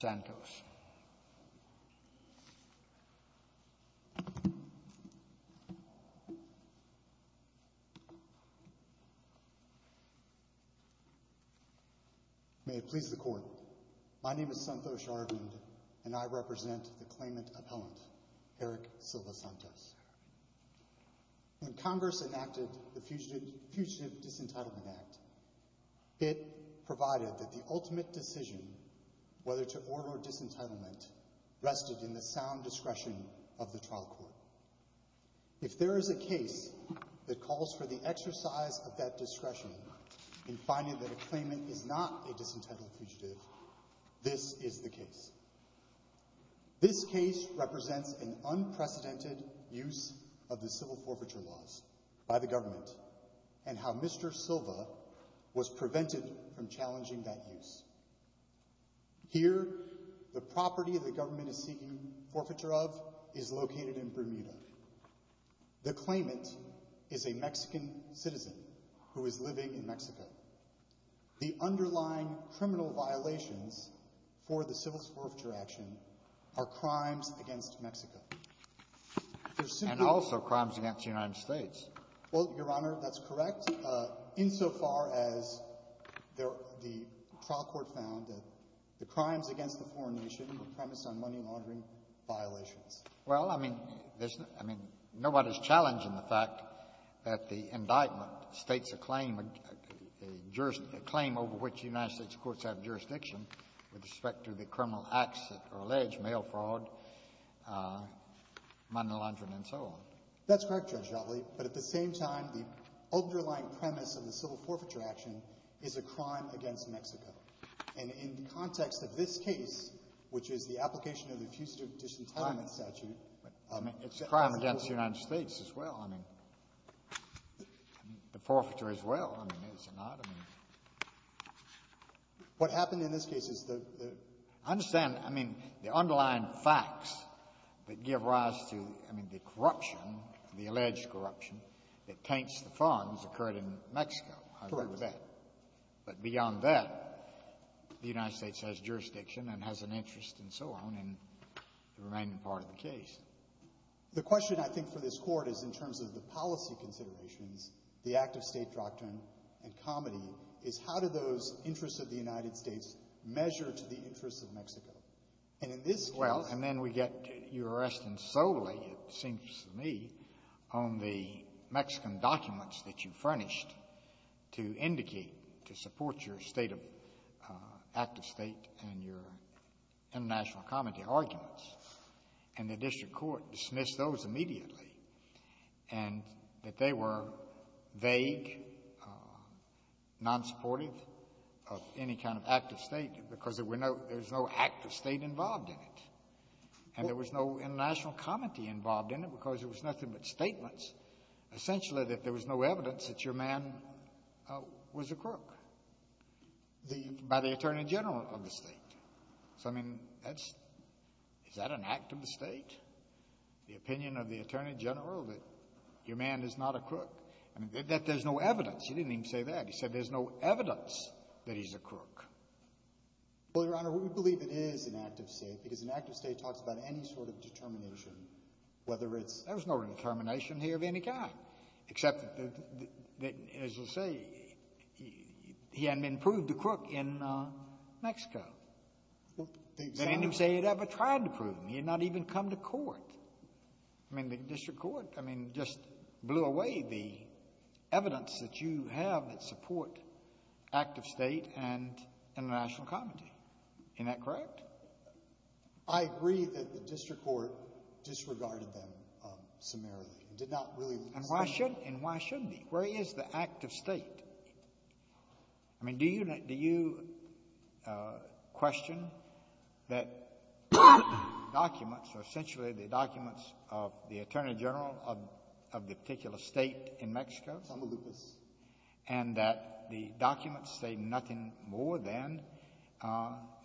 Santos. May it please the Court, my name is Santhosh Arvind and I represent the claimant appellant, Eric Silva-Santos. When Congress enacted the Fugitive Disentitlement Act, it provided that the ultimate decision whether to order disentitlement rested in the sound discretion of the trial court. If there is a case that calls for the exercise of that discretion in finding that a claimant is not a disentitled fugitive, this is the case. This case represents an unprecedented use of the civil forfeiture laws by the government and how Mr. Silva was prevented from challenging that use. Here the property the government is seeking forfeiture of is located in Bermuda. The claimant is a Mexican citizen who is living in Mexico. The underlying criminal violations for the civil forfeiture action are crimes against Mexico. And also crimes against the United States. Well, Your Honor, that's correct, insofar as the trial court found that the crimes against the foreign nation were premised on money laundering violations. Well, I mean, nobody is challenging the fact that the indictment states a claim, a claim over which the United States courts have jurisdiction with respect to the criminal acts that are alleged, mail fraud, money laundering and so on. That's correct, Judge Jotley. But at the same time, the underlying premise of the civil forfeiture action is a crime against Mexico. And in the context of this case, which is the application of the Fugitive Disentitlement Statute. I mean, it's a crime against the United States as well, I mean, the forfeiture as well, I mean, is it not? What happened in this case is the – I understand, I mean, the underlying facts that give rise to, I mean, the corruption, the alleged corruption that tanks the funds occurred in Mexico. Correct. I agree with that. But beyond that, the United States has jurisdiction and has an interest and so on in the remaining part of the case. The question, I think, for this Court is in terms of the policy considerations, the active state doctrine and comedy, is how do those interests of the United States measure to the interests of Mexico? And in this case – Well, and then we get – you're arresting solely, it seems to me, on the Mexican documents that you furnished to indicate, to support your state of – active state and your international comedy arguments. And the district court dismissed those immediately, and that they were vague, non-supportive of any kind of active state because there were no – there's no active state involved in it. And there was no international comedy involved in it because it was nothing but statements, essentially that there was no evidence that your man was a crook, the – by the Attorney General of the state. So, I mean, that's – is that an act of the state, the opinion of the Attorney General that your man is not a crook? I mean, that there's no evidence. He didn't even say that. He said there's no evidence that he's a crook. Well, Your Honor, we believe it is an act of state because an act of state talks about any sort of determination, whether it's – There was no determination here of any kind, except that, as you say, he hadn't been proved a crook in Mexico. Well, the – They didn't even say he'd ever tried to prove him. He had not even come to court. I mean, the district court, I mean, just blew away the evidence that you have that support act of state and international comedy. Isn't that correct? I agree that the district court disregarded them summarily and did not really look at – And why shouldn't it? And why shouldn't it? Where is the act of state? I mean, do you question that documents, or essentially the documents of the attorney general of the particular state in Mexico – Tamaulipas. And that the documents say nothing more than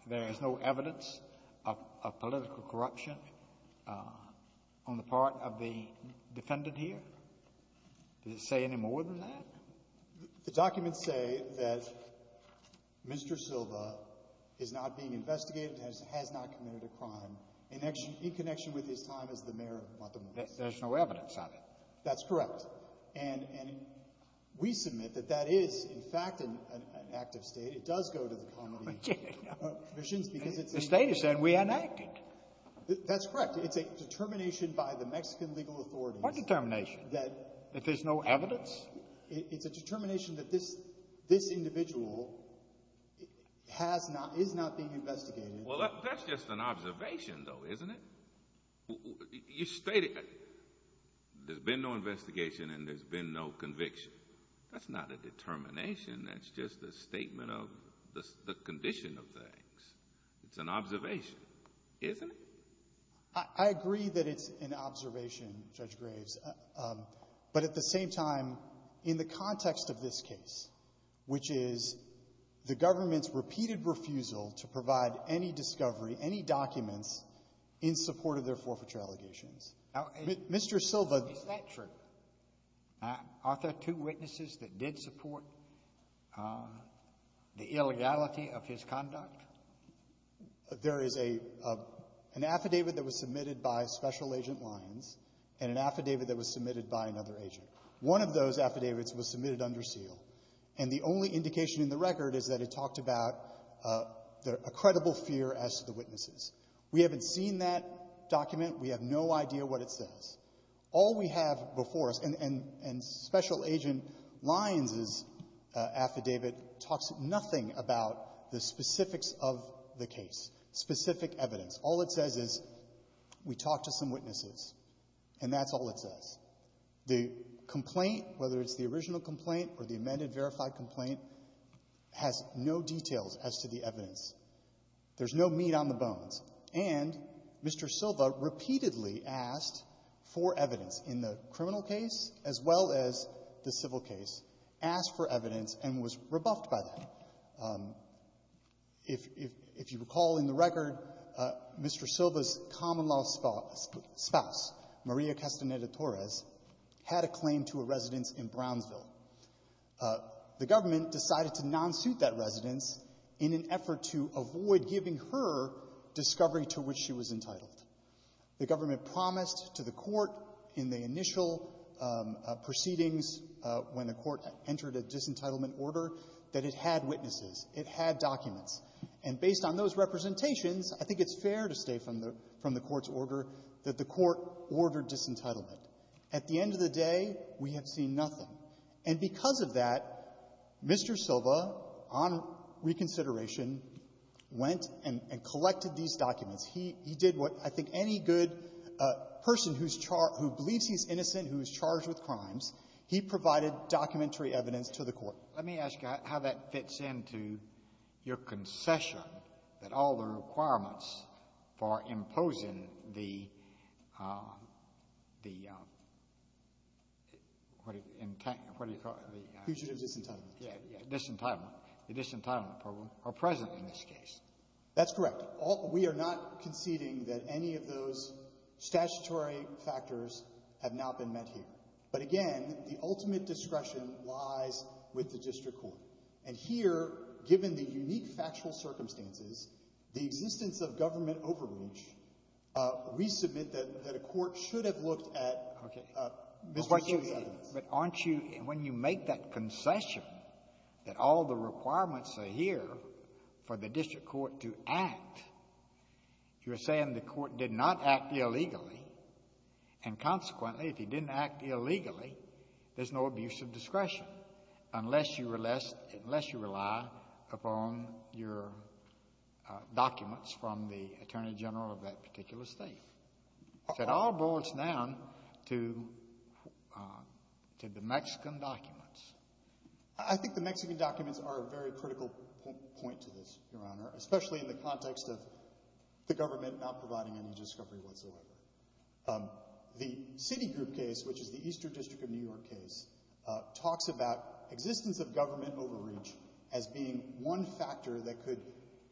there is no evidence of political corruption on the part of the defendant here? Did it say any more than that? The documents say that Mr. Silva is not being investigated, has not committed a crime, in connection with his time as the mayor of Tamaulipas. There's no evidence of it. That's correct. And we submit that that is, in fact, an act of state. It does go to the comedy commissions because it's – The state is saying we enacted. That's correct. It's a determination by the Mexican legal authorities. It's a determination. What determination? That there's no evidence? It's a determination that this individual has not – is not being investigated. Well, that's just an observation, though, isn't it? You stated there's been no investigation and there's been no conviction. That's not a determination. That's just a statement of the condition of things. It's an observation, isn't it? I agree that it's an observation, Judge Graves. But at the same time, in the context of this case, which is the government's repeated refusal to provide any discovery, any documents, in support of their forfeiture allegations. Mr. Silva – Is that true? Are there two witnesses that did support the illegality of his conduct? There is an affidavit that was submitted by Special Agent Lyons and an affidavit that was submitted by another agent. One of those affidavits was submitted under seal. And the only indication in the record is that it talked about a credible fear as to the witnesses. We haven't seen that document. We have no idea what it says. All we have before us – and Special Agent Lyons' affidavit talks nothing about the specifics of the case, specific evidence. All it says is, we talked to some witnesses, and that's all it says. The complaint, whether it's the original complaint or the amended verified complaint, has no details as to the evidence. There's no meat on the bones. And Mr. Silva repeatedly asked for evidence in the criminal case as well as the civil case, asked for evidence, and was rebuffed by that. If you recall in the record, Mr. Silva's common-law spouse, Maria Castaneda Torres, had a claim to a residence in Brownsville. The government decided to non-suit that residence in an effort to avoid giving her discovery to which she was entitled. The government promised to the court in the initial proceedings, when the court entered a disentitlement order, that it had witnesses, it had documents. And based on those representations, I think it's fair to say from the court's order that the court ordered disentitlement. At the end of the day, we have seen nothing. And because of that, Mr. Silva, on reconsideration, went and collected these documents. He did what I think any good person who believes he's innocent, who is charged with crimes, he provided documentary evidence to the court. Let me ask you how that fits into your concession that all the requirements for imposing the, what do you call it? Fugitive disentitlement. Yes, disentitlement. The disentitlement program are present in this case. That's correct. But we are not conceding that any of those statutory factors have not been met here. But again, the ultimate discretion lies with the district court. And here, given the unique factual circumstances, the existence of government overreach, we submit that a court should have looked at Mr. Silva's evidence. But aren't you, when you make that concession that all the requirements are here for the district court to act, you're saying the court did not act illegally and consequently, if he didn't act illegally, there's no abuse of discretion, unless you rely upon your documents from the Attorney General of that particular state. So it all boils down to the Mexican documents. I think the Mexican documents are a very critical point to this, Your Honor, especially in the context of the government not providing any discovery whatsoever. The Citigroup case, which is the Eastern District of New York case, talks about existence of government overreach as being one factor that could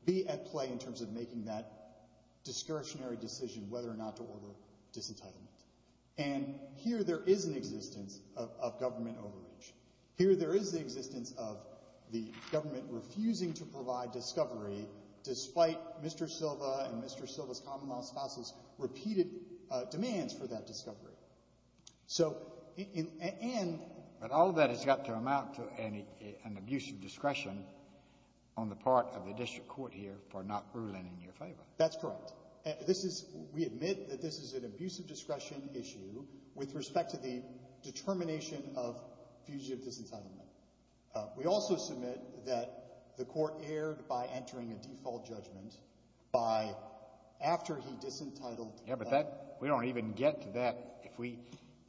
be at play in terms of making that discretionary decision whether or not to order disentitlement. And here there is an existence of government overreach. Here there is the existence of the government refusing to provide discovery despite Mr. Silva and Mr. Silva's common-law spouse's repeated demands for that discovery. So, and... But all that has got to amount to an abuse of discretion on the part of the district court here for not ruling in your favor. That's correct. This is, we admit that this is an abuse of discretion issue with respect to the determination of fugitive disentitlement. We also submit that the court erred by entering a default judgment by after he disentitled... Yeah, but that, we don't even get to that if we,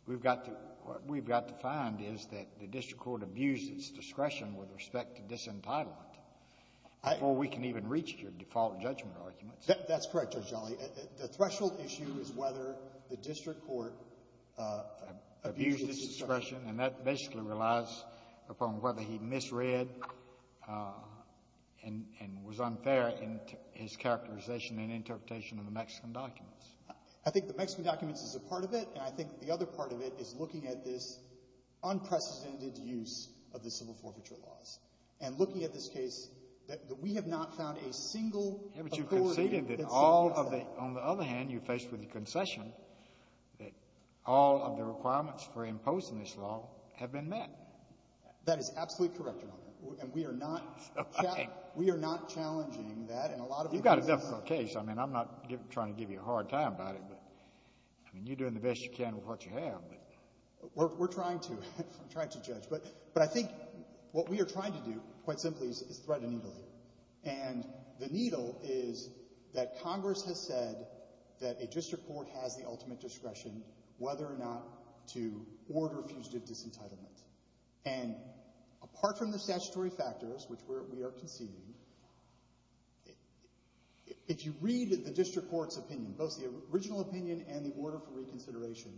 we've got to, what we've got to find is that the district court abused its discretion with respect to disentitlement before we can even reach your default judgment arguments. That's correct, Judge Jolly. The threshold issue is whether the district court abused its discretion. And that basically relies upon whether he misread and was unfair in his characterization and interpretation of the Mexican documents. I think the Mexican documents is a part of it, and I think the other part of it is looking at this unprecedented use of the civil forfeiture laws. And looking at this case, that we have not found a single authority... Yeah, but you've conceded that all of the, on the other hand, you're faced with the concession that all of the requirements for imposing this law have been met. That is absolutely correct, Your Honor. And we are not challenging that in a lot of... You've got a difficult case. I mean, I'm not trying to give you a hard time about it, but I mean, you're doing the best you can with what you have. We're trying to. I'm trying to judge. But I think what we are trying to do, quite simply, is thread a needle. And the needle is that Congress has said that a district court has the ultimate discretion whether or not to order fugitive disentitlement. And apart from the statutory factors, which we are conceding, if you read the district court's opinion, both the original opinion and the order for reconsideration,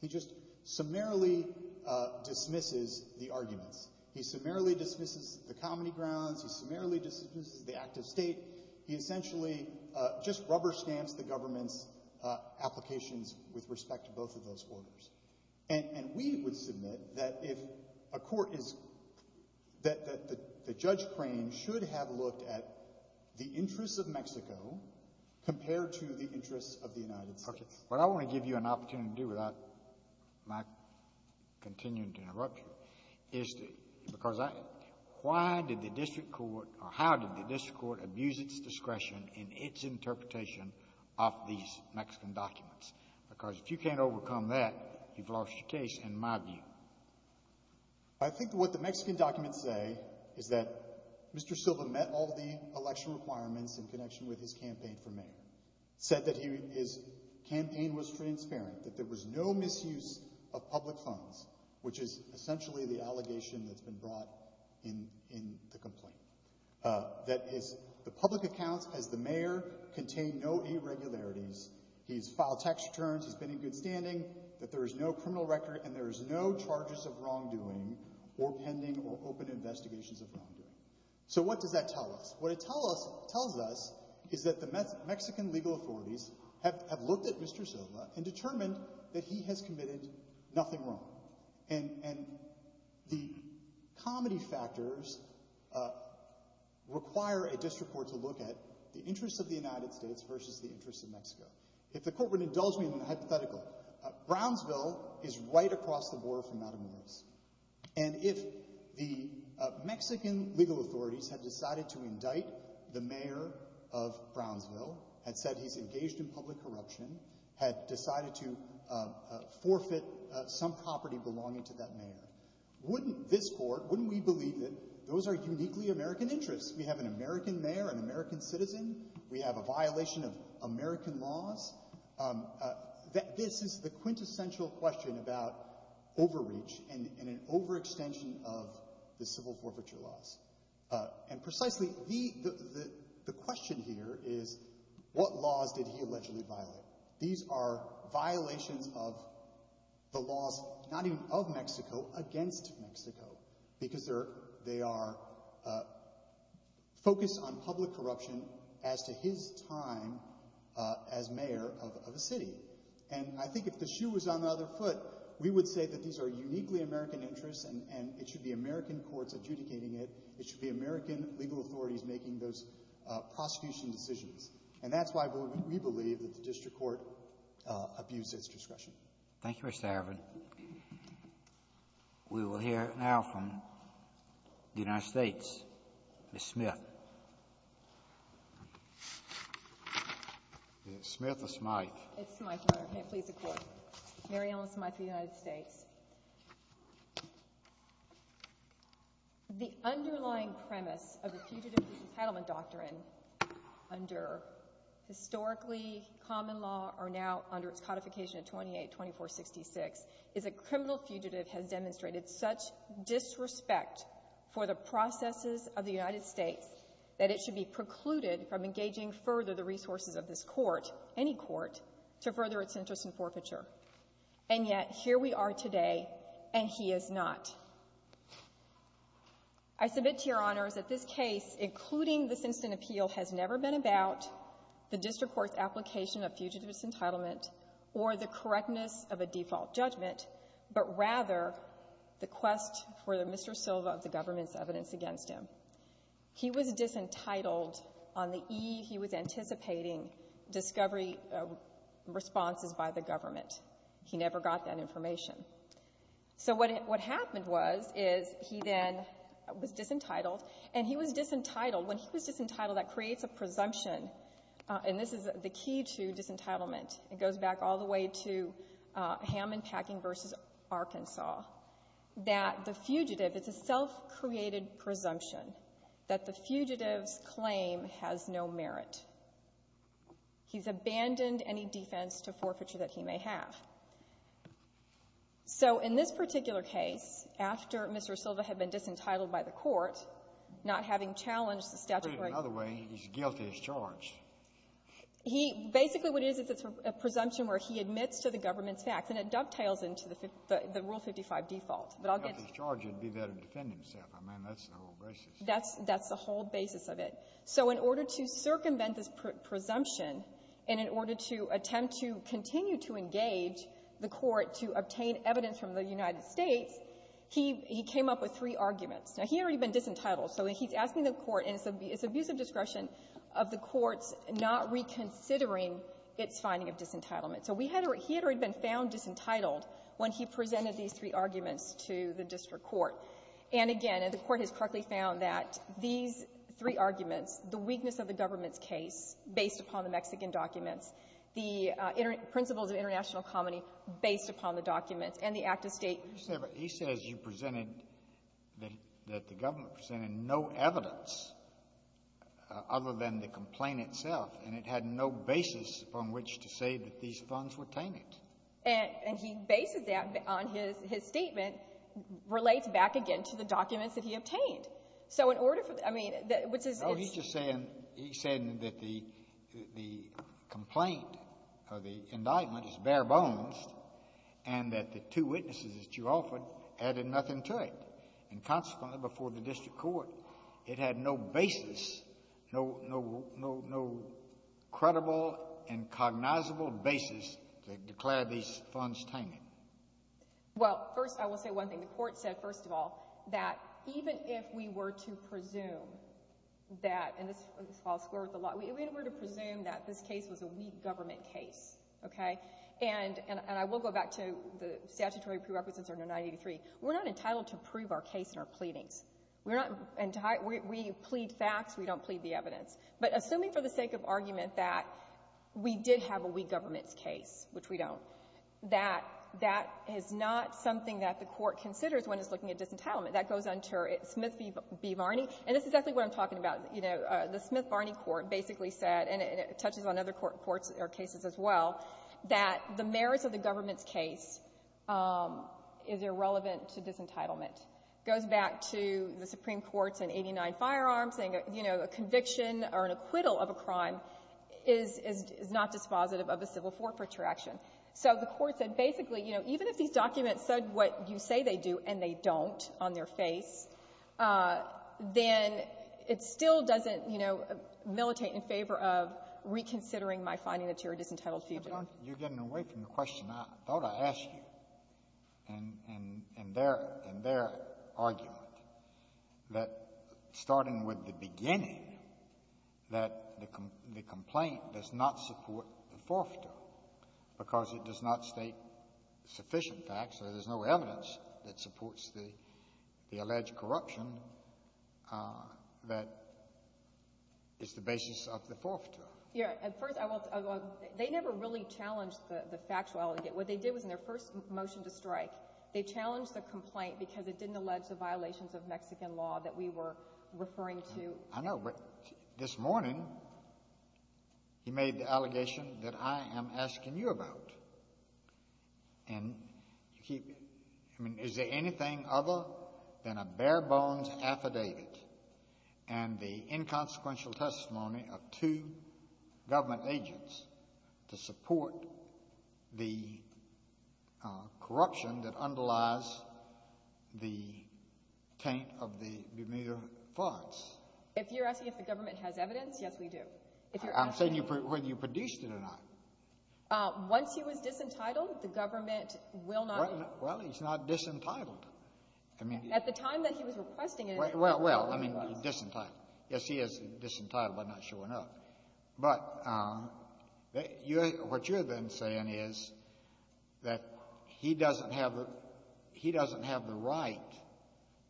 he just summarily dismisses the arguments. He summarily dismisses the comedy grounds. He summarily dismisses the act of state. He essentially just rubber-stamps the government's applications with respect to both of those orders. And we would submit that if a court is... that the judge claim should have looked at the interests of Mexico compared to the interests of the United States. What I want to give you an opportunity to do without my continuing to interrupt you is because I... Why did the district court, or how did the district court, abuse its discretion in its interpretation of these Mexican documents? Because if you can't overcome that, you've lost your case, in my view. I think what the Mexican documents say is that Mr. Silva met all the election requirements in connection with his campaign for mayor. Said that his campaign was transparent, that there was no misuse of public funds, which is essentially the allegation that's been brought in the complaint. That the public accounts as the mayor contain no irregularities. He's filed tax returns, he's been in good standing, that there is no criminal record, and there is no charges of wrongdoing or pending or open investigations of wrongdoing. So what does that tell us? What it tells us is that the Mexican legal authorities have looked at Mr. Silva and determined that he has committed nothing wrong. And the comedy factors require a district court to look at the interests of the United States versus the interests of Mexico. If the court would indulge me in a hypothetical, Brownsville is right across the border from Mountain Views. And if the Mexican legal authorities had decided to indict the mayor of Brownsville, had said he's engaged in public corruption, had decided to forfeit some property belonging to that mayor, wouldn't this court, wouldn't we believe that those are uniquely American interests? We have an American mayor, an American citizen, we have a violation of American laws. This is the quintessential question about overreach and an overextension of the civil forfeiture laws. And precisely the question here is what laws did he allegedly violate? These are violations of the laws not even of Mexico, against Mexico. Because they are focused on public corruption as to his time as mayor of a city. And I think if the shoe was on the other foot, we would say that these are uniquely American interests and it should be it should be American legal authorities making those prosecution decisions. And that's why we believe that the district court abuses discretion. Thank you, Mr. Arvin. We will hear now from the United States. Ms. Smith. Is it Smith or Smythe? It's Smythe, Your Honor. May it please the Court. Mary Ellen Smythe of the United States. The underlying premise of the Fugitive Compatibility Doctrine under historically common law or now under its codification 28-2466 is a criminal fugitive has demonstrated such disrespect for the processes of the United States that it should be precluded from engaging further the resources of this court, any court, to further its interest in forfeiture. And yet, here we are today and he is not. I submit to Your Honor that this case, including this instant appeal, has never been about the district court's application of fugitive's entitlement or the correctness of a default judgment but rather the quest for Mr. Silva of the government's evidence against him. He was disentitled on the eve he was anticipating discovery responses by the government. He never got that information. So what happened was is he then was disentitled and he was disentitled when he was disentitled that creates a presumption and this is the key to disentitlement. It goes back all the way to Hammond-Packing versus Arkansas that the fugitive, it's a self-created presumption that the fugitive's claim has no merit. He's abandoned any defense to forfeiture that he may have. So in this particular case, after Mr. Silva had been disentitled by the court not having challenged the statute of rights. Put it another way, he's guilty as charged. He basically what it is, it's a presumption where he admits to the government's facts and it dovetails into the Rule 55 default. If he's guilty as charged, he'd be better to defend himself. I mean, that's the whole basis. That's the whole basis of it. So in order to circumvent this presumption, and in order to attempt to continue to engage the court to obtain evidence from the United States, he came up with three arguments. Now, he had already been disentitled, so he's asking the court and it's abuse of discretion of the courts not reconsidering its finding of disentitlement. So he had already been found disentitled when he presented these three arguments to the district court. And again, the court has correctly found that these three arguments, the weakness of the government's case based upon the Mexican documents, the principles of international comity based upon the documents, and the act of state. He says you presented, that the government presented no evidence other than the complaint itself, and it had no basis upon which to say that these funds were tainted. And he bases that on his statement relates back again to the documents that he obtained. So in order for, I mean, No, he's just saying, he's saying that the complaint or the indictment is bare bones and that the two witnesses that you offered added nothing to it. And consequently, before the district court, it had no basis, no credible and cognizable basis to declare these funds tainted. Well, first, I will say one thing. The court said, first of all, that even if we were to presume that, and this falls short of the law, if we were to presume that this case was a weak government case, okay, and I will go back to the statutory prerequisites under 983, we're not entitled to prove our case and our pleadings. We plead facts, we don't plead the evidence. But assuming for the sake of argument that we did have a weak government's case, which we don't, that that is not something that the court considers when it's looking at disentitlement. That goes unto Smith v. Varney, and this is exactly what I'm talking about. The Smith-Varney court basically said, and it touches on other cases as well, that the merits of the government's case is irrelevant to disentitlement. It goes back to the Supreme Court's in 89 firearms saying a conviction is not dispositive of a civil forfeiture action. So the court said basically, you know, even if these documents said what you say they do and they don't on their face, then it still doesn't, you know, militate in favor of reconsidering my finding that you're a disentitled fugitive. You're getting away from the question I thought I asked you. And their argument that starting with the beginning that the complaint does not support the forfeiture because it does not state sufficient facts, so there's no evidence that supports the alleged corruption that is the basis of the forfeiture. Yeah, and first I want to they never really challenged the factual allegation. What they did was in their first motion to strike, they challenged the complaint because it didn't allege the violations of Mexican law that we were referring to. I know, but this morning he made the claim that the government has evidence to support the corruption that underlies the taint of the Bermuda Farts. If you're asking if the government has evidence, Well, the Bermuda Farts claim that the government has evidence Once he was disentitled, the government will not Well, he's not disentitled. At the time that he was requesting it Well, I mean, he's disentitled. Yes, he is disentitled by not showing up. But what you're then saying is that he doesn't have the right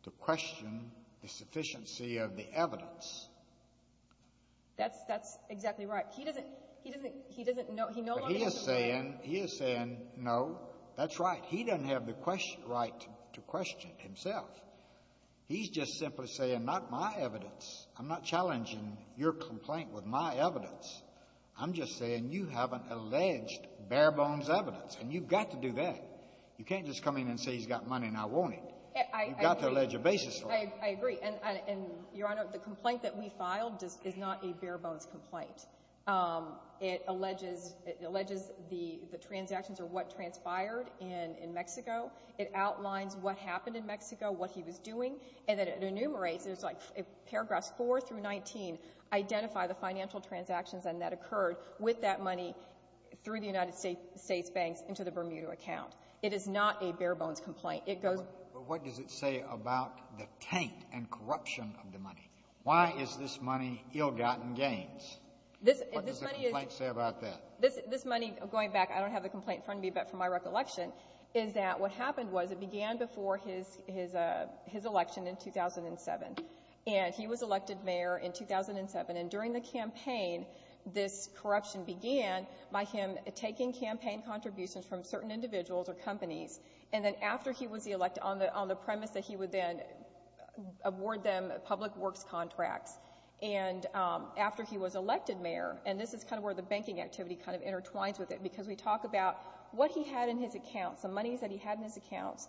to question the sufficiency of the evidence. That's exactly right. He doesn't know He is saying No, that's right. He doesn't have the right to question himself. He's just simply saying not my evidence. I'm not challenging your complaint with my evidence. I'm just saying you haven't alleged bare bones evidence, and you've got to do that. You can't just come in and say he's got money and I want it. You've got to allege a basis for it. I agree, and Your Honor, the complaint that we filed is not a bare bones complaint. It alleges the transactions are what transpired in Mexico. It outlines what happened in Mexico, what he was doing, and then it enumerates. It's like paragraphs 4 through 19 identify the financial transactions and that occurred with that money through the United States banks into the Bermuda account. It is not a bare bones complaint. What does it say about the taint and corruption of the money? Why is this money ill-gotten gains? What does the complaint say about that? This money, going back, I don't have the complaint in front of me, but from my recollection, is that what happened was it began before his election in 2007, and he was elected mayor in 2007, and during the campaign, this corruption began by him taking campaign contributions from certain individuals or companies, and then after he was elected, on the premise that he would then award them public works contracts, and after he was elected mayor, and this is kind of where the banking activity kind of intertwines with it, because we talk about what he had in his account, some monies that he had in his account,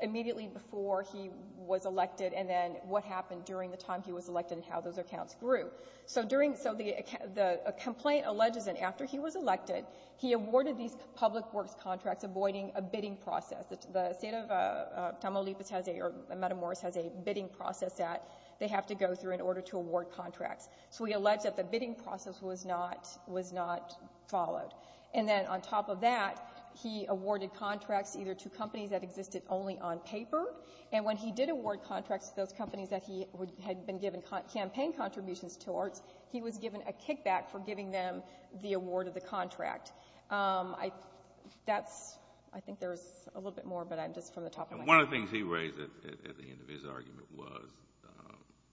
immediately before he was elected, and then what happened during the time he was elected and how those accounts grew. The complaint alleges that after he was elected, he awarded these public works contracts avoiding a bidding process. The state of Tamaulipas has a bidding process that they have to go through in order to award contracts, so we allege that the bidding process was not followed, and then on top of that, he awarded contracts either to companies that existed only on paper, and when he did award contracts to those companies that he towards, he was given a kickback for giving them the award of the contract. I think there's a little bit more, but I'm just from the top of my head. One of the things he raised at the end of his argument was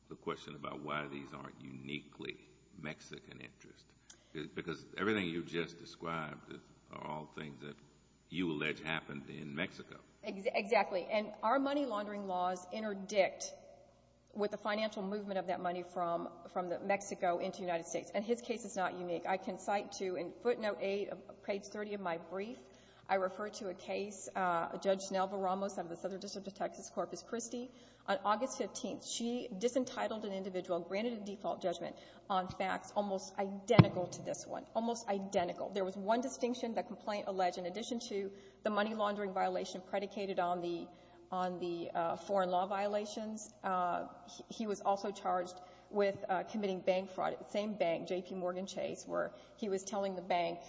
the question about why these aren't uniquely Mexican interest, because everything you just described are all things that you allege happened in Mexico. Exactly, and our money laundering laws interdict with the financial movement of that money from Mexico into the United States, and his case is not unique. I can cite to, in footnote 8 of page 30 of my brief, I refer to a case, Judge Nelva Ramos of the Southern District of Texas Corpus Christi. On August 15th, she disentitled an individual, granted a default judgment on facts almost identical to this one, almost identical. There was one distinction that complaint alleged, in addition to the money laundering violation predicated on the foreign law violations. He was also charged with committing bank fraud. He was charged with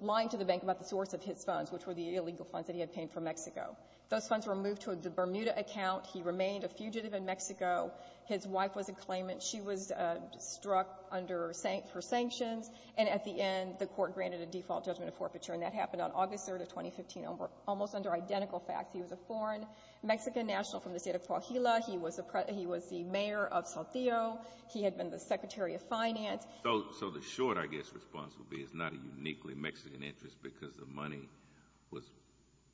lying to the bank about the source of his funds, which were the illegal funds that he had paid for Mexico. Those funds were moved to the Bermuda account. He remained a fugitive in Mexico. His wife was a claimant. She was struck for sanctions, and at the end, the court granted a default judgment of forfeiture, and that happened on August 3rd of 2015, almost under identical facts. He was a foreign Mexican national from the state of Tlaquihila. He was the mayor of Saltillo. He had been the secretary of finance. So the short, I guess, response would be it's not a uniquely Mexican interest because the money was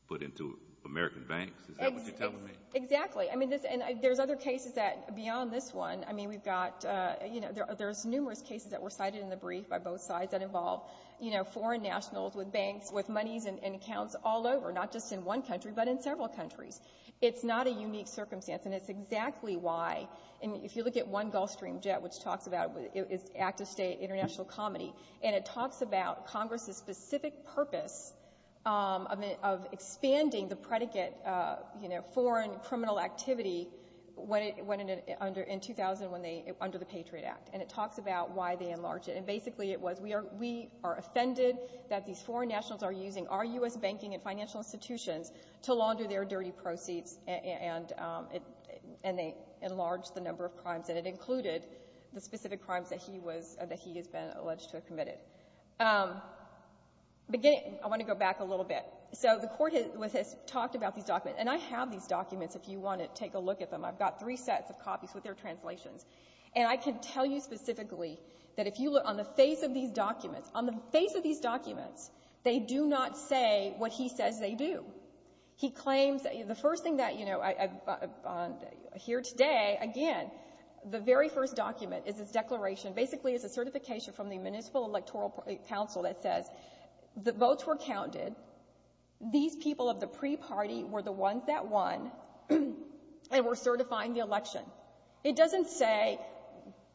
put into American banks? Is that what you're telling me? Exactly. I mean, there's other cases that, beyond this one, I mean, we've got, you know, there's numerous cases that were cited in the brief by both sides that involve, you know, foreign nationals with banks, with monies and accounts all over, not just in one country but in several countries. It's not a unique circumstance, and it's exactly why. And if you look at one Gulfstream jet, which talks about, it's active state international comedy, and it talks about Congress's specific purpose of expanding the predicate, you know, foreign criminal activity when it went under in 2000 when they, under the Patriot Act. And it talks about why they enlarge it. And basically it was, we are offended that these foreign nationals are using our U.S. banking and financial institutions to launder their dirty proceeds, and they enlarge the number of crimes, and it included the specific crimes that he was, that he has been alleged to have committed. Beginning, I want to go back a little bit. So the court has talked about these documents, and I have these documents if you want to take a look at them. I've got three sets of copies with their translations. And I can tell you specifically that if you look on the face of these documents, on the face of these documents, they do not say what he says they do. He claims, the first thing that, you know, here today, again, the very first document is this declaration, basically it's a certification from the Municipal Electoral Council that says the votes were counted, these people of the pre-party were the ones that won, and were certifying the election. It doesn't say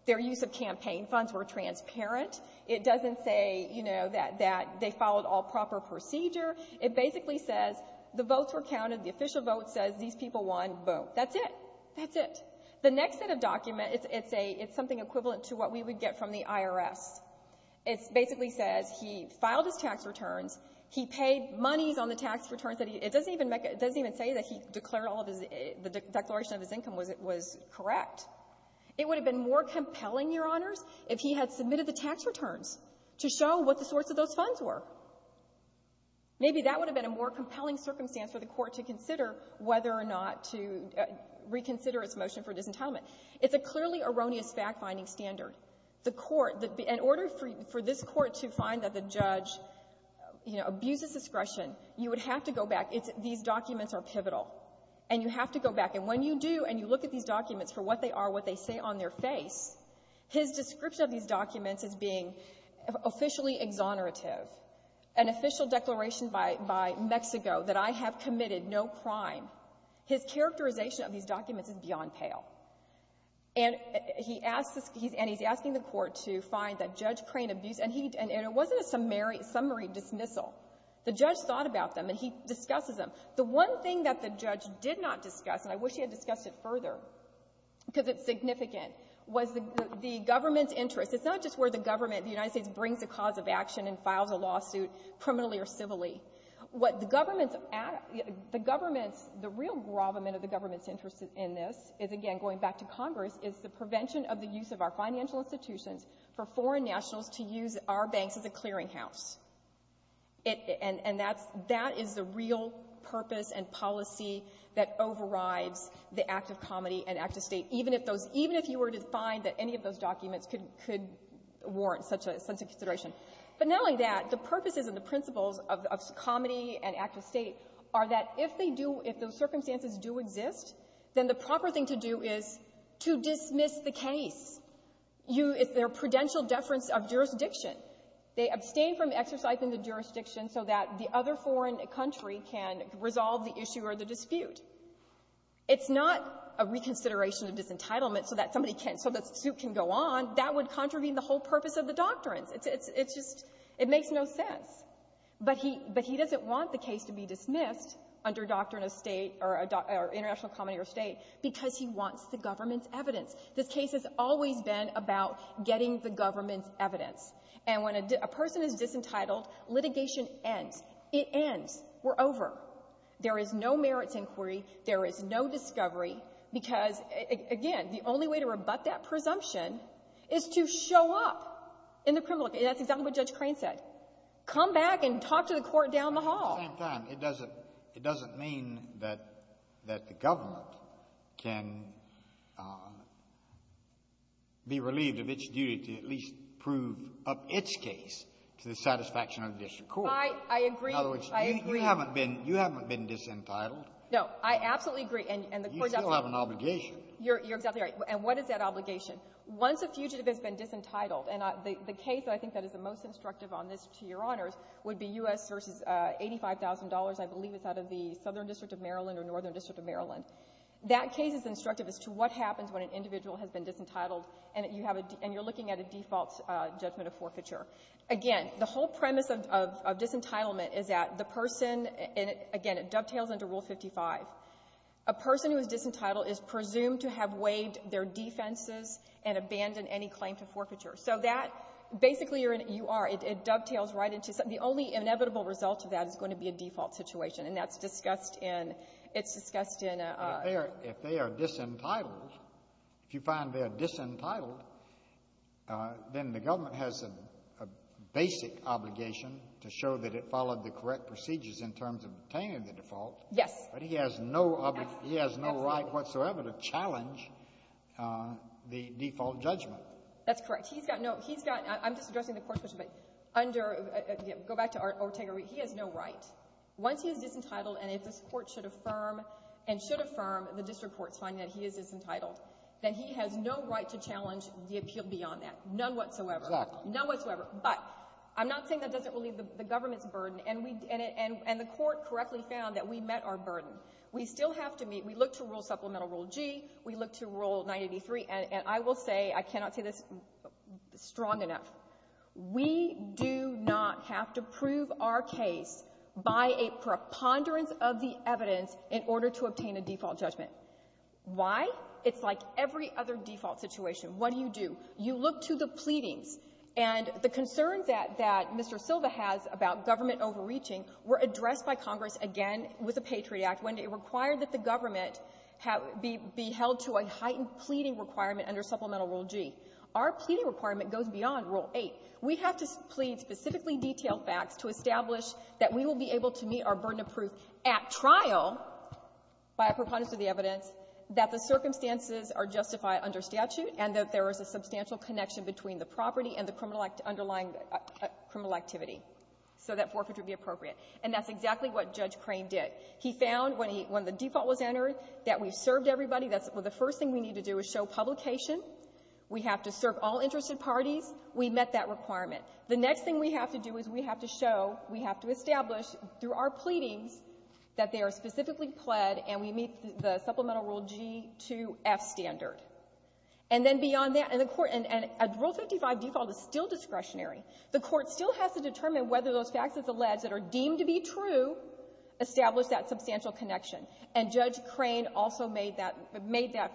their use of campaign funds were transparent. It doesn't say, you know, that they followed all proper procedure. It basically says the votes were counted, the official vote says these people won, boom. That's it. That's it. The next set of documents, it's a, it's something equivalent to what we would get from the IRS. It basically says he filed his tax returns, he paid monies on the tax returns that he, it doesn't even make, it doesn't even say that he declared all of his, the declaration of his income was correct. It would have been more compelling, Your Honors, if he had submitted the tax returns to show what the sorts of those funds were. Maybe that would have been a more compelling circumstance for the court to consider whether or not to reconsider its motion for disentitlement. It's a clearly erroneous fact-finding standard. The court, in order for this court to find that the judge abuses discretion, you would have to go back, these documents are pivotal, and you have to go back, and when you do, and you look at these documents for what they are, what they say on their face, his description of these documents as being officially exonerative, an official declaration by Mexico that I have committed no crime, his characterization of these documents is beyond pale. And he's asking the court to find that Judge Crane abused, and it wasn't a summary dismissal. The judge thought about them, and he discusses them. The one thing that the judge did not discuss, and I wish he had discussed it further because it's significant, was the government's interest. It's not just where the government, the United States, brings a cause of action and files a lawsuit, criminally or civilly. What the government the government's, the real gravamen of the government's interest in this is, again, going back to Congress, is the prevention of the use of our financial institutions for foreign nationals to use our banks as a clearinghouse. And that's that is the real purpose and policy that overrides the act of comedy and act of state, even if you were to find that any of those documents could warrant such a consideration. But not only that, the purposes and the principles of comedy and act of state are that if they do, if those circumstances do exist, then the proper thing to do is to dismiss the case. It's their prudential deference of jurisdiction. They abstain from exercising the jurisdiction so that the other foreign country can resolve the issue or the dispute. It's not a reconsideration of disentitlement so that somebody can, so the suit can go on. That would contravene the whole purpose of the doctrines. It's just, it makes no sense. But he doesn't want the case to be dismissed under doctrine of state or international comedy or state because he wants the government's evidence. This case has always been about getting the government's evidence. And when a person is disentitled, litigation ends. It ends. We're over. There is no merits inquiry. There is no discovery because, again, the only way to rebut that presumption is to show up in the criminal case. That's exactly what Judge Crane said. Come back and talk to the court down the hall. At the same time, it doesn't mean that the government can be relieved of its duty to at least prove up its case to the satisfaction of the district court. I agree. In other words, you haven't been disentitled. No. I absolutely agree. You still have an obligation. You're exactly right. And what is that obligation? Once a fugitive has been disentitled, and the case that I think is the most instructive on this, to your honors, would be U.S. v. $85,000, I believe it's out of the Southern District of Maryland or Northern District of Maryland. That case is instructive as to what happens when an individual has been disentitled, and you're looking at a default judgment of forfeiture. Again, the whole thing is that the person, and again, it dovetails into Rule 55, a person who is disentitled is presumed to have waived their defenses and abandoned any claim to forfeiture. So that, basically, you are, it dovetails right into, the only inevitable result of that is going to be a default situation, and that's discussed in, it's discussed in a... If they are disentitled, if you find they are disentitled, then the government has a basic obligation to show that it followed the correct procedures in terms of obtaining the default. Yes. But he has no obligation, he has no right whatsoever to challenge the default judgment. That's correct. He's got no, he's got, I'm just addressing the Court's question, but under, go back to Ortega-Reed, he has no right. Once he is disentitled, and if this Court should affirm and should affirm the District Court's finding that he is disentitled, then he has no right to challenge the appeal beyond that. None whatsoever. None whatsoever. But, I'm not saying that doesn't relieve the government's burden, and the Court correctly found that we met our burden. We still have to meet, we look to Rule Supplemental Rule G, we look to Rule 983, and I will say, I cannot say this strong enough, we do not have to prove our case by a preponderance of the evidence in order to obtain a default judgment. Why? It's like every other default situation. What do you do? You look to the pleadings, and the concerns that Mr. Silva has about government overreaching were addressed by Congress again with the Patriot Act when it required that the government be held to a heightened pleading requirement under Supplemental Rule G. Our pleading requirement goes beyond Rule 8. We have to plead specifically detailed facts to establish that we will be able to meet our burden of proof at trial by a preponderance of the evidence that the circumstances are justified under statute and that there is a substantial connection between the property and the criminal underlying criminal activity so that forfeit would be appropriate. And that's exactly what Judge Crane did. He found when the default was entered that we've served everybody, that's the first thing we need to do is show publication. We have to serve all interested parties. We met that requirement. The next thing we have to do is we have to show, we have to establish through our pleadings that they are specifically pled and we meet the Supplemental Rule G 2F standard. And then beyond that, and the Court, and Rule 55 default is still discretionary. The Court still has to determine whether those facts that are alleged that are deemed to be true establish that substantial connection. And Judge Crane also made that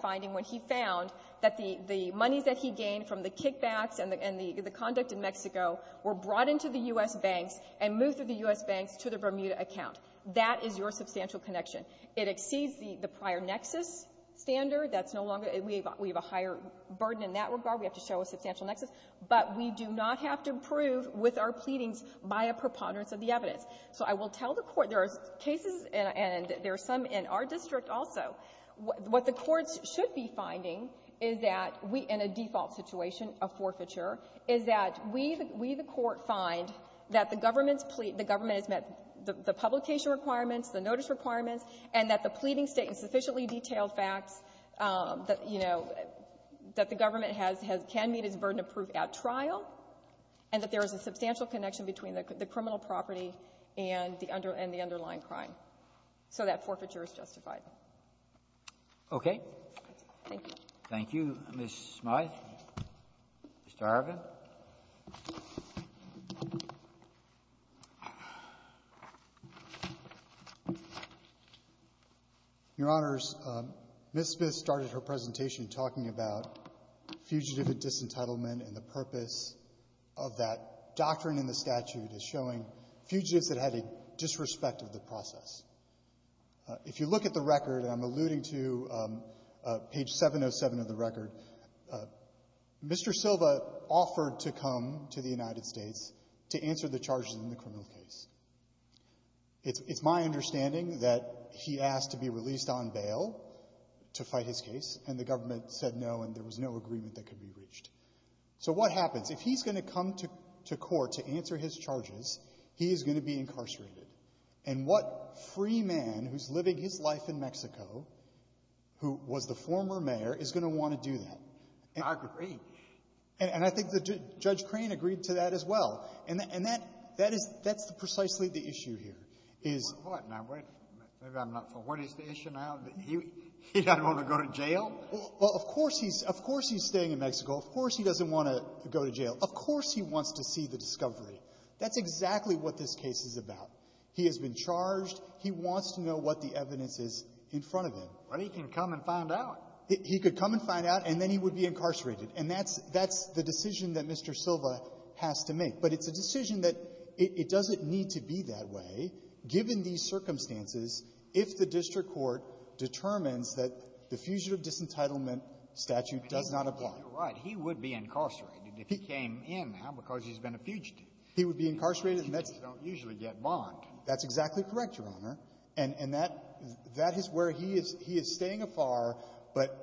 finding when he found that the monies that he gained from the kickbacks and the conduct in Mexico were brought into the U.S. banks and moved through the U.S. banks to the Bermuda account. That is your substantial connection. It exceeds the prior nexus standard. That's no longer, we have a higher burden in that regard. We have to show a substantial nexus. But we do not have to prove with our pleadings by a preponderance of the evidence. So I will tell the Court there are cases, and there are some in our district also, what the courts should be finding is that we, in a default situation, a forfeiture, is that we, the Court, find that the government has met the publication requirements, the pleading state and sufficiently detailed facts that, you know, that the government has, can meet its burden of proof at trial, and that there is a substantial connection between the criminal property and the underlying crime. So that forfeiture is justified. Okay. Thank you. Thank you, Ms. Smyth. Mr. Arvin. Your Honors, Ms. Smyth started her presentation talking about fugitive disentitlement and the purpose of that doctrine in the statute as showing fugitives that had a disrespect of the process. If you look at the record, and I'm alluding to page 707 of the record, Mr. Silva offered to come to the United States to answer the charges in the criminal case. It's my understanding that he asked to be released on bail to fight his case, and the government said no, and there was no agreement that could be reached. So what happens? If he's going to come to court to answer his charges, he is going to be incarcerated. And what free man who's living his life in Mexico, who was the former mayor, is going to want to do that? I agree. And I think Judge Crane agreed to that as well. And that's precisely the issue here. Now, wait. Maybe I'm not familiar. What is the issue now? He doesn't want to go to jail? Of course he's staying in Mexico. Of course he doesn't want to go to jail. Of course he wants to see the discovery. That's exactly what this case is about. He has been charged. He wants to know what the evidence is in front of him. But he can come and find out. He could come and find out, and then he would be incarcerated. And that's the decision that Mr. Silva has to make. But it's a decision that it doesn't need to be that way, given these circumstances, if the district court determines that the fugitive disentitlement statute does not apply. You're right. He would be incarcerated if he came in now because he's been a fugitive. He would be incarcerated. Fugitives don't usually get bond. That's exactly correct, Your Honor. And that is where he is staying afar, but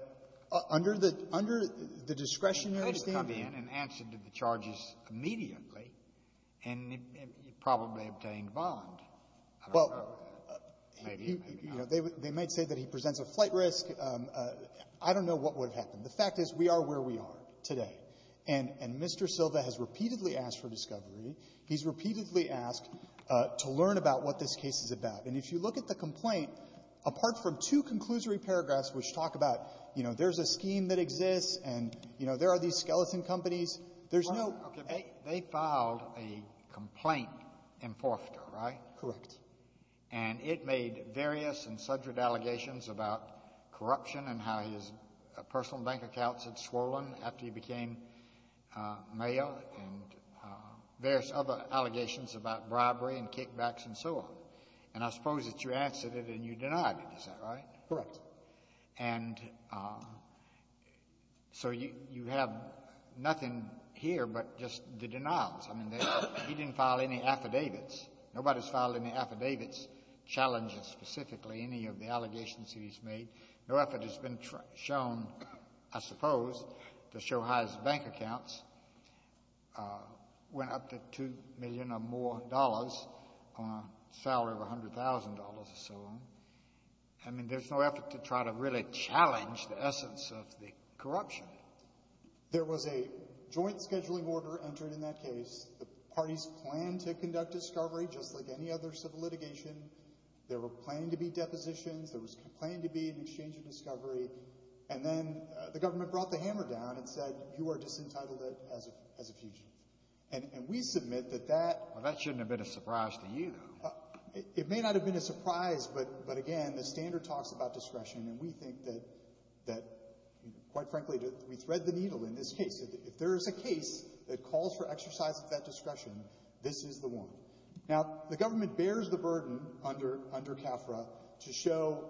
under the discretionary standing. He came in and answered the charges immediately, and he probably obtained bond. I don't know. They might say that he presents a flight risk. I don't know what would have happened. The fact is, we are where we are today. And Mr. Silva has repeatedly asked for discovery. He's repeatedly asked to learn about what this case is about. And if you look at the complaint, apart from two conclusory paragraphs which talk about, you know, there's a scheme that exists, and, you know, there are these skeleton companies. There's no They filed a complaint in Forfeter, right? Correct. And it made various and subject allegations about corruption and how his personal bank accounts had swollen after he became male, and various other allegations about robbery and kickbacks and so on. And I suppose that you answered it and you denied it, is that right? Correct. And so you have nothing here but just the denials. I mean, he didn't file any affidavits. Nobody's filed any affidavits challenging specifically any of the allegations that he's made. No effort has been shown, I suppose, to show how his bank accounts went up to $2 million or more on a salary of $100,000 or so on. I mean, there's no effort to try to really challenge the essence of the corruption. There was a joint scheduling order entered in that case. The parties planned to conduct discovery, just like any other civil litigation. There were planned to be depositions. There was planned to be an exchange of discovery. And then the government brought the hammer down and said, you are disentitled as a fugitive. And we submit that that... Well, that shouldn't have been a surprise to you. It may not have been a surprise, but again, the standard talks about discretion, and we think that quite frankly, we thread the needle in this case. If there is a case that calls for exercise of that discretion, this is the one. Now, the government bears the burden under CAFRA to show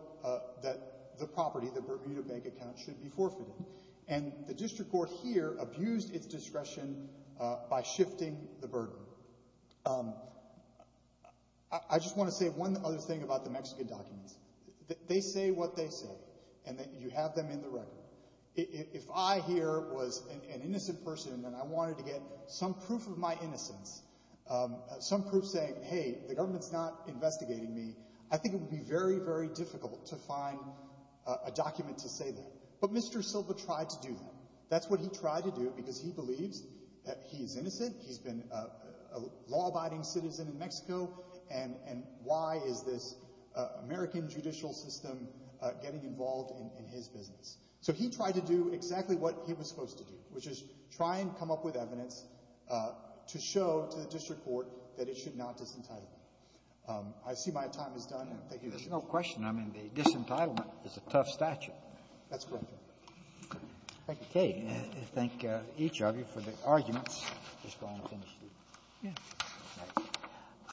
that the property, the Bermuda Bank account, should be forfeited. And the district court here abused its discretion by shifting the burden. So, I just want to say one other thing about the Mexican documents. They say what they say, and you have them in the record. If I here was an innocent person, and I wanted to get some proof of my innocence, some proof saying, hey, the government's not investigating me, I think it would be very, very difficult to find a document to say that. But Mr. Silva tried to do that. That's what he tried to do, because he believes that he's innocent, he's been a law-abiding citizen in Mexico, and why is this American judicial system getting involved in his business? So he tried to do exactly what he was supposed to do, which is try and come up with evidence to show to the district court that it should not disentitle him. I see my time is done. There's no question. I mean, the disentitlement is a tough statute. That's correct, Your Honor. Thank you. Okay. I thank each of you for the arguments. Thank you.